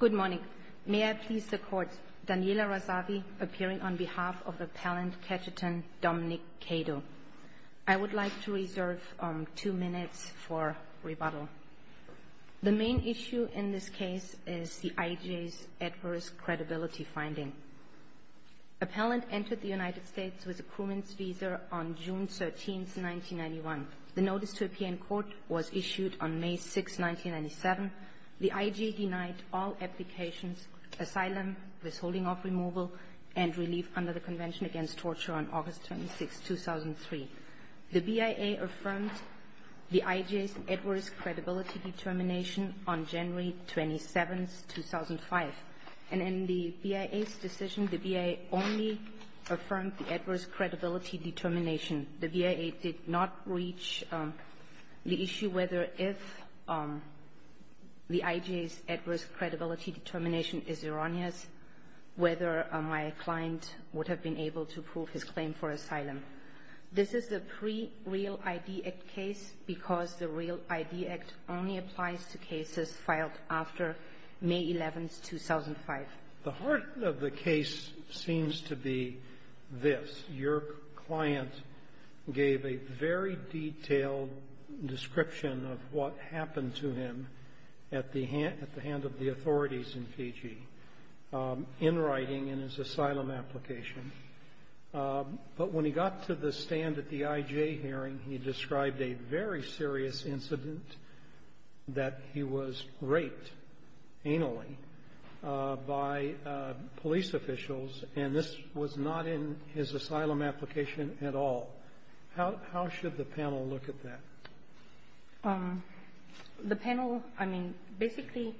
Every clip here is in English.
Good morning. May I please the Court, Daniela Razavi appearing on behalf of Appellant Ketchetan Dominic Kado. I would like to reserve two minutes for rebuttal. The main issue in this case is the IJ's adverse credibility finding. Appellant entered the United States with a crewman's visa on June 13, 1991. The notice to appear in court was issued on May 6, 1997. The IJ denied all applications, asylum, withholding of removal, and relief under the Convention Against Torture on August 26, 2003. The BIA affirmed the IJ's adverse credibility determination on January 27, 2005. And in the BIA's decision, the BIA only affirmed the adverse credibility determination. The BIA did not reach the issue whether if the IJ's adverse credibility determination is erroneous, whether my client would have been able to prove his claim for asylum. This is the pre-Real ID Act case because the Real ID Act only applies to cases filed after May 11, 2005. The heart of the case seems to be this. Your client gave a very detailed description of what happened to him at the hand of the authorities in Fiji, in writing, in his asylum application. But when he got to the stand at the IJ hearing, he described a very serious incident, that he was raped, anally, by police officials, and this was not in his asylum application at all. How should the panel look at that? The panel, I mean, basically,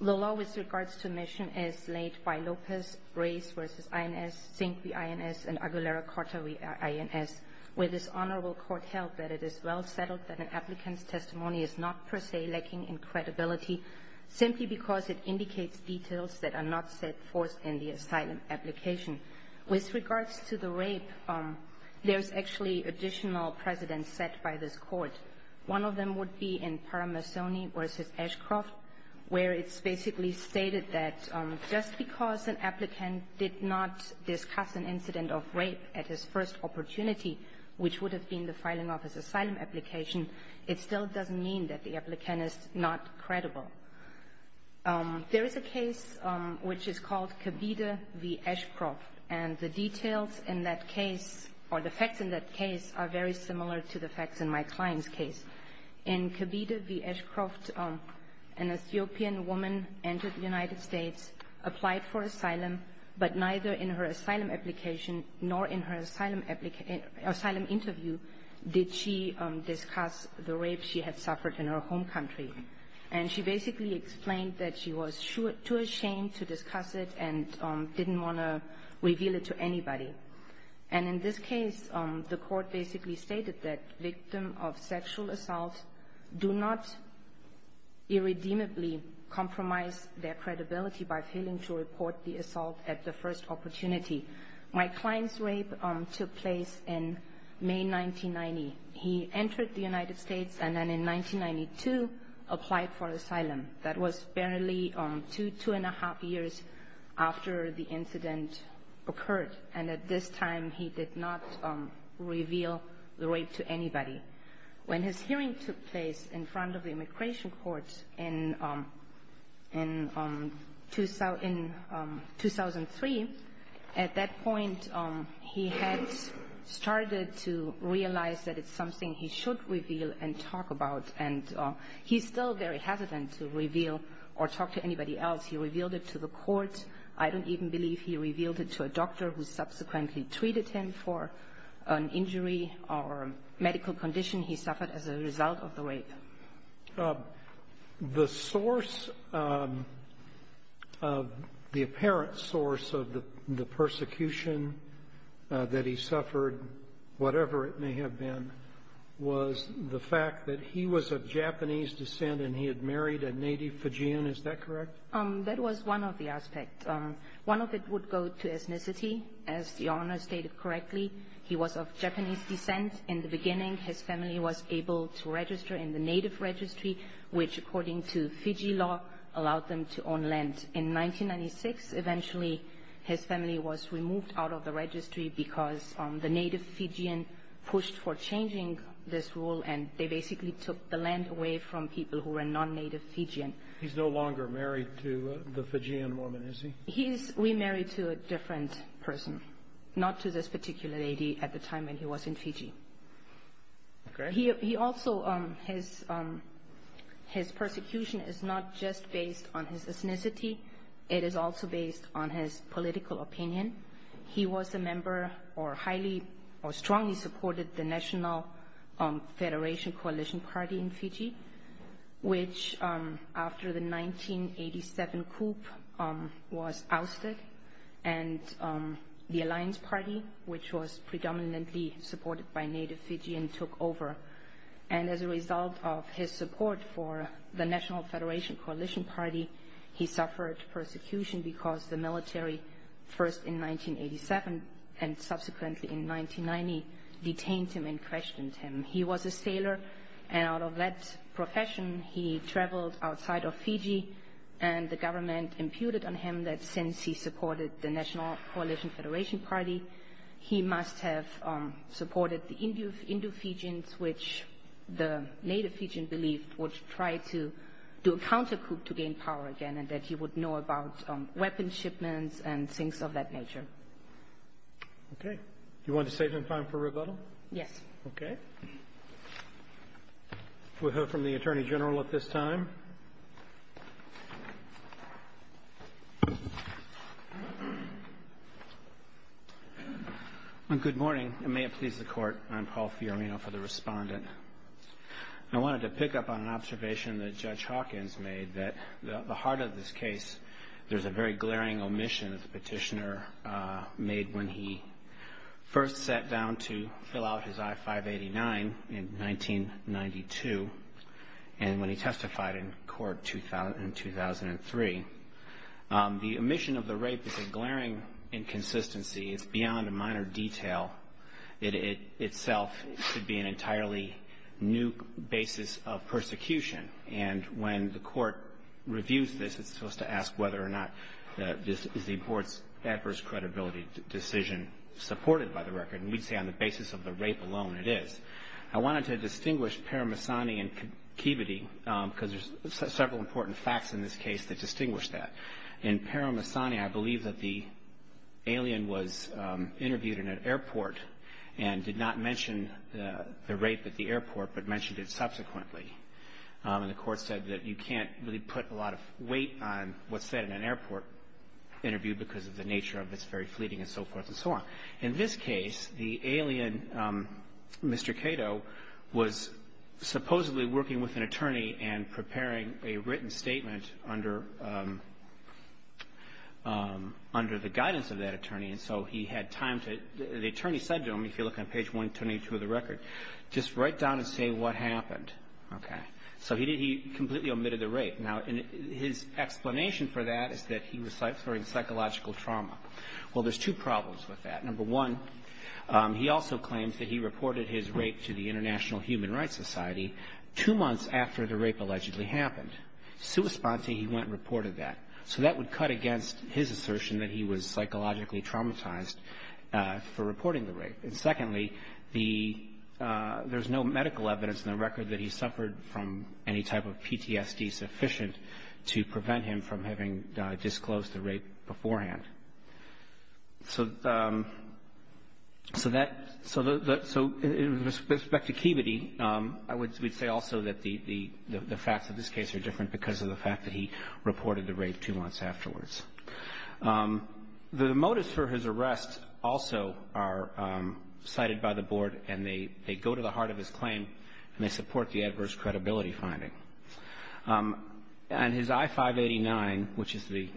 the law with regards to admission is laid by Lopez, Reyes v. INS, Sink v. INS, and Aguilera-Cortez v. INS, where this honorable court held that it is well settled that an applicant's testimony is not, per se, lacking in credibility, simply because it indicates details that are not set forth in the asylum application. With regards to the rape, there's actually additional precedents set by this court. One of them would be in Parmesan v. Ashcroft, where it's basically stated that just because an applicant did not discuss an incident of rape at his first opportunity, which would have been the filing of his asylum application, it still doesn't mean that the applicant is not credible. There is a case which is called Kabide v. Ashcroft, and the details in that case, or the facts in that case, are very similar to the facts in my client's case. In Kabide v. Ashcroft, an Ethiopian woman entered the United States, applied for asylum, but neither in her asylum application nor in her asylum interview did she discuss the rape she had suffered in her home country. And she basically explained that she was too ashamed to discuss it and didn't want to reveal it to anybody. And in this case, the court basically stated that victims of sexual assault do not irredeemably compromise their credibility by failing to report the assault at the first opportunity. My client's rape took place in May 1990. He entered the United States and then in 1992 applied for asylum. That was barely two, two and a half years after the incident occurred. And at this time, he did not reveal the rape to anybody. When his hearing took place in front of the immigration court in 2003, at that point, he had started to realize that it's something he should reveal and talk about. And he's still very hesitant to reveal or talk to anybody else. He revealed it to the court. I don't even believe he revealed it to a doctor who subsequently treated him for an injury or medical condition. He suffered as a result of the rape. The source of the apparent source of the persecution that he suffered, whatever it may have been, was the fact that he was of Japanese descent and he had married a native Fujian. Is that correct? That was one of the aspects. One of it would go to ethnicity. As Your Honor stated correctly, he was of Japanese descent. In the beginning, his family was able to register in the native registry, which according to Fiji law allowed them to own land. In 1996, eventually, his family was removed out of the registry because the native Fijian pushed for changing this rule and they basically took the land away from people who were non-native Fijian. He's no longer married to the Fijian woman, is he? He is remarried to a different person, not to this particular lady at the time when he was in Fiji. His persecution is not just based on his ethnicity. It is also based on his political opinion. He was a member or strongly supported the National Federation Coalition Party in Fiji, which after the 1987 coup was ousted and the Alliance Party, which was predominantly supported by native Fijian, took over. As a result of his support for the National Federation Coalition Party, he suffered persecution because the military, first in 1987 and subsequently in 1990, detained him and questioned him. He was a sailor. Out of that profession, he traveled outside of Fiji and the government imputed on him that since he supported the National Coalition Federation Party, he must have supported the Indu Fijians, which the native Fijian believed would try to do a countercoup to gain power again and that he would know about weapons shipments and things of that nature. Do you want to save some time for rebuttal? Yes. Okay. We'll hear from the Attorney General at this time. Good morning, and may it please the Court. I'm Paul Fiorino for the Respondent. I wanted to pick up on an observation that Judge Hawkins made, that at the heart of this case there's a very glaring omission that the petitioner made when he first sat down to fill out his I-589 in 1992 and when he testified in court in 2003. The omission of the rape is a glaring inconsistency. It's beyond a minor detail. It itself should be an entirely new basis of persecution, and when the Court reviews this, it's supposed to ask whether or not this is the Court's adverse credibility decision supported by the record, and we'd say on the basis of the rape alone it is. I wanted to distinguish Paramahsani and Kibiti because there's several important facts in this case that distinguish that. In Paramahsani, I believe that the alien was interviewed in an airport and did not mention the rape at the airport but mentioned it subsequently, and the Court said that you can't really put a lot of weight on what's said in an airport interview because of the nature of its very fleeting and so forth and so on. In this case, the alien, Mr. Cato, was supposedly working with an attorney and preparing a written statement under the guidance of that attorney, and so he had time to, the attorney said to him, if you look on page 122 of the record, just write down and say what happened. Okay. So he completely omitted the rape. Now, his explanation for that is that he was suffering psychological trauma. Well, there's two problems with that. Number one, he also claims that he reported his rape to the International Human Rights Society two months after the rape allegedly happened. Sui sponte, he went and reported that. So that would cut against his assertion that he was psychologically traumatized for reporting the rape. And secondly, there's no medical evidence in the record that he suffered from any type of PTSD sufficient to prevent him from having disclosed the rape beforehand. So in respect to Kibbity, I would say also that the facts of this case are different because of the fact that he reported the rape two months afterwards. The motives for his arrest also are cited by the board, and they go to the heart of his claim, and they support the adverse credibility finding. And his I-589, which is the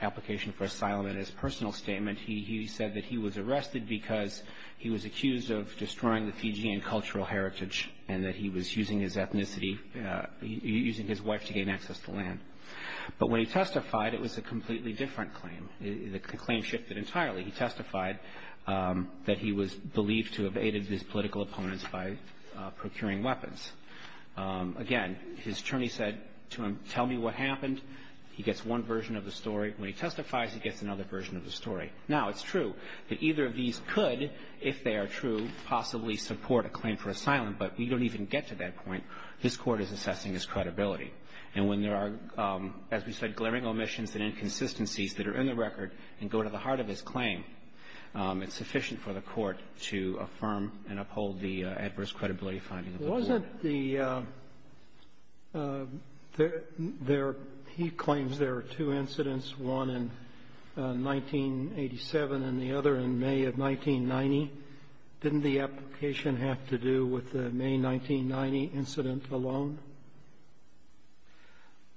application for asylum in his personal statement, he said that he was arrested because he was accused of destroying the Fijian cultural heritage and that he was using his ethnicity, using his wife to gain access to land. But when he testified, it was a completely different claim. The claim shifted entirely. He testified that he was believed to have aided his political opponents by procuring weapons. Again, his attorney said to him, tell me what happened. He gets one version of the story. When he testifies, he gets another version of the story. Now, it's true that either of these could, if they are true, possibly support a claim for asylum, but we don't even get to that point. This Court is assessing his credibility. And when there are, as we said, glaring omissions and inconsistencies that are in the record and go to the heart of his claim, it's sufficient for the Court to affirm and uphold the adverse credibility finding of the court. Sotomayor, he claims there are two incidents, one in 1987 and the other in May of 1990. Didn't the application have to do with the May 1990 incident alone,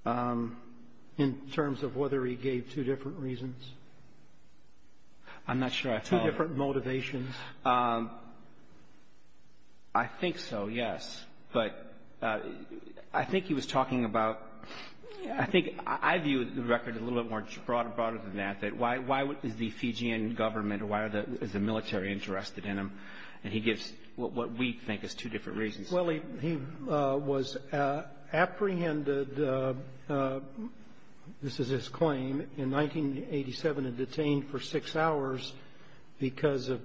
in terms of whether he gave two different reasons? I'm not sure I followed. Two different motivations. I think so, yes. But I think he was talking about — I think I view the record a little bit more broadly than that, why is the Fijian government or why is the military interested in him? And he gives what we think is two different reasons. Well, he was apprehended — this is his claim — in 1987 and detained for six hours because of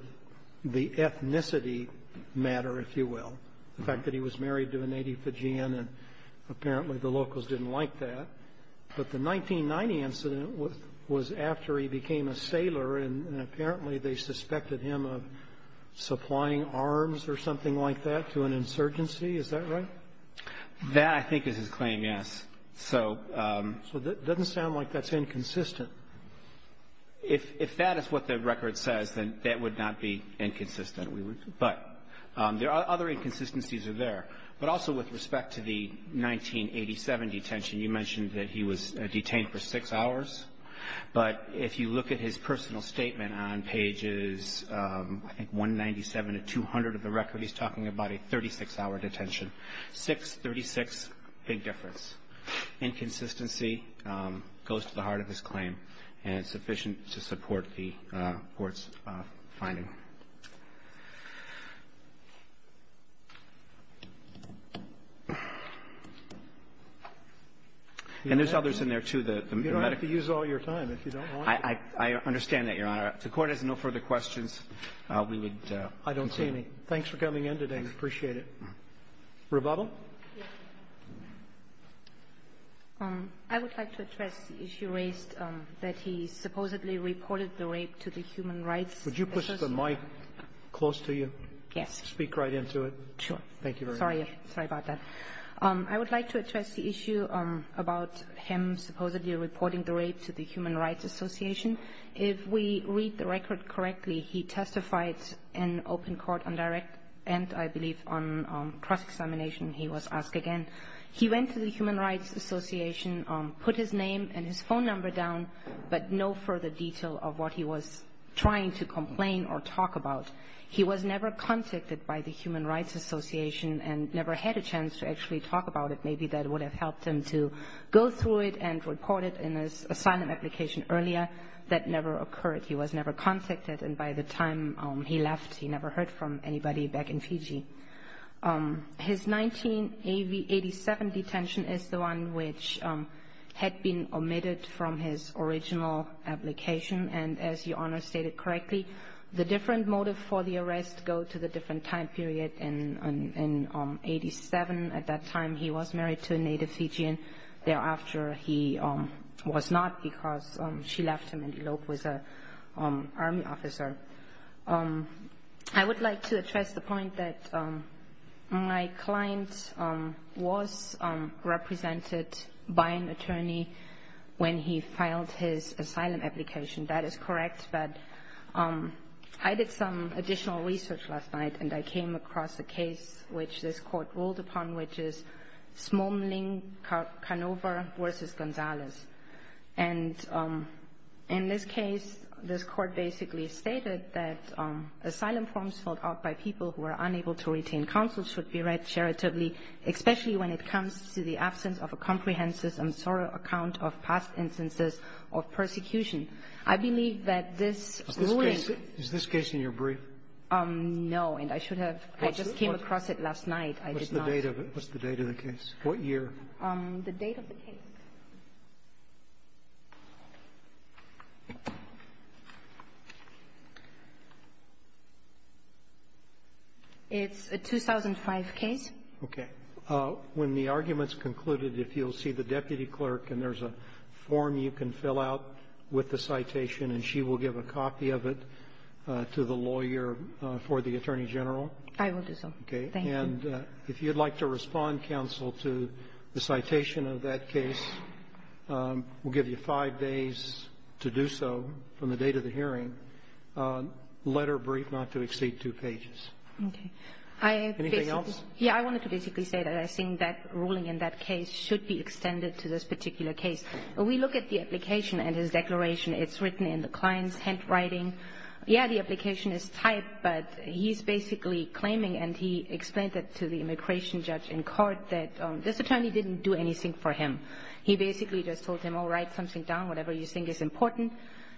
the ethnicity matter, if you will, the fact that he was married to a native Fijian, and apparently the locals didn't like that. But the 1990 incident was after he became a sailor, and apparently they suspected him of supplying arms or something like that to an insurgency. Is that right? That, I think, is his claim, yes. So — So it doesn't sound like that's inconsistent. If that is what the record says, then that would not be inconsistent. But there are other inconsistencies there. But also with respect to the 1987 detention, you mentioned that he was detained for six hours. But if you look at his personal statement on pages, I think, 197 to 200 of the record, he's talking about a 36-hour detention. Six, 36, big difference. Inconsistency goes to the heart of his claim, and it's sufficient to support the court's finding. And there's others in there, too. You don't have to use all your time if you don't want to. I understand that, Your Honor. If the Court has no further questions, we would concede. I don't see any. Thanks for coming in today. I appreciate it. Rebubble? I would like to address the issue raised that he supposedly reported the rape to the Human Rights Commission. Would you push the mic close to you? Yes. Speak right into it. Sure. Thank you very much. Sorry. Sorry about that. I would like to address the issue about him supposedly reporting the rape to the Human Rights Association. If we read the record correctly, he testified in open court on direct and, I believe, on cross-examination, he was asked again. He went to the Human Rights Association, put his name and his phone number down, but no further detail of what he was trying to complain or talk about. He was never contacted by the Human Rights Association and never had a chance to actually talk about it. Maybe that would have helped him to go through it and report it in his asylum application earlier. That never occurred. He was never contacted. And by the time he left, he never heard from anybody back in Fiji. His 1987 detention is the one which had been omitted from his original application. And as Your Honor stated correctly, the different motive for the arrest go to the different time period. In 1987, at that time, he was married to a native Fijian. Thereafter, he was not because she left him in Elope with an army officer. I would like to address the point that my client was represented by an attorney when he filed his asylum application. That is correct. But I did some additional research last night, and I came across a case which this court ruled upon, which is Smoling Canova v. Gonzalez. And in this case, this court basically stated that asylum forms filled out by people who are unable to retain counsel should be read charitably, especially when it comes to the absence of a comprehensive and thorough account of past instances of persecution. I believe that this ruling — Is this case in your brief? No. And I should have — I just came across it last night. I did not — What's the date of it? What's the date of the case? What year? The date of the case. It's a 2005 case. Okay. When the argument's concluded, if you'll see the deputy clerk, and there's a form you can fill out with the citation, and she will give a copy of it to the lawyer for the attorney general? I will do so. Thank you. And if you'd like to respond, counsel, to the citation of that case, we'll give you five days to do so from the date of the hearing, letter brief, not to exceed two pages. Okay. Anything else? Yeah. I wanted to basically say that I think that ruling in that case should be extended to this particular case. We look at the application and his declaration. It's written in the client's handwriting. Yeah, the application is typed, but he's basically claiming, and he explained that to the immigration judge in court, that this attorney didn't do anything for him. He basically just told him, all right, something down, whatever you think is important.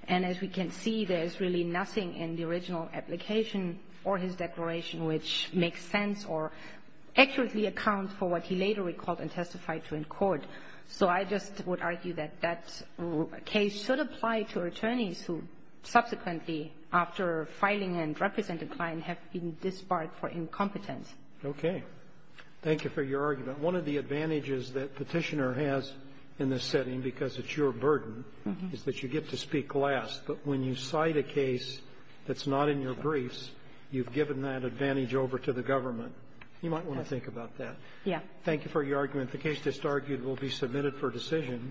And as we can see, there's really nothing in the original application or his declaration which makes sense or accurately accounts for what he later recalled and testified to in court. So I just would argue that that case should apply to attorneys who subsequently, after filing and representing the client, have been disbarred for incompetence. Okay. Thank you for your argument. One of the advantages that Petitioner has in this setting, because it's your burden, is that you get to speak last, but when you cite a case that's not in your briefs, you've given that advantage over to the government. Yeah. Thank you for your argument. The case that's argued will be submitted for decision.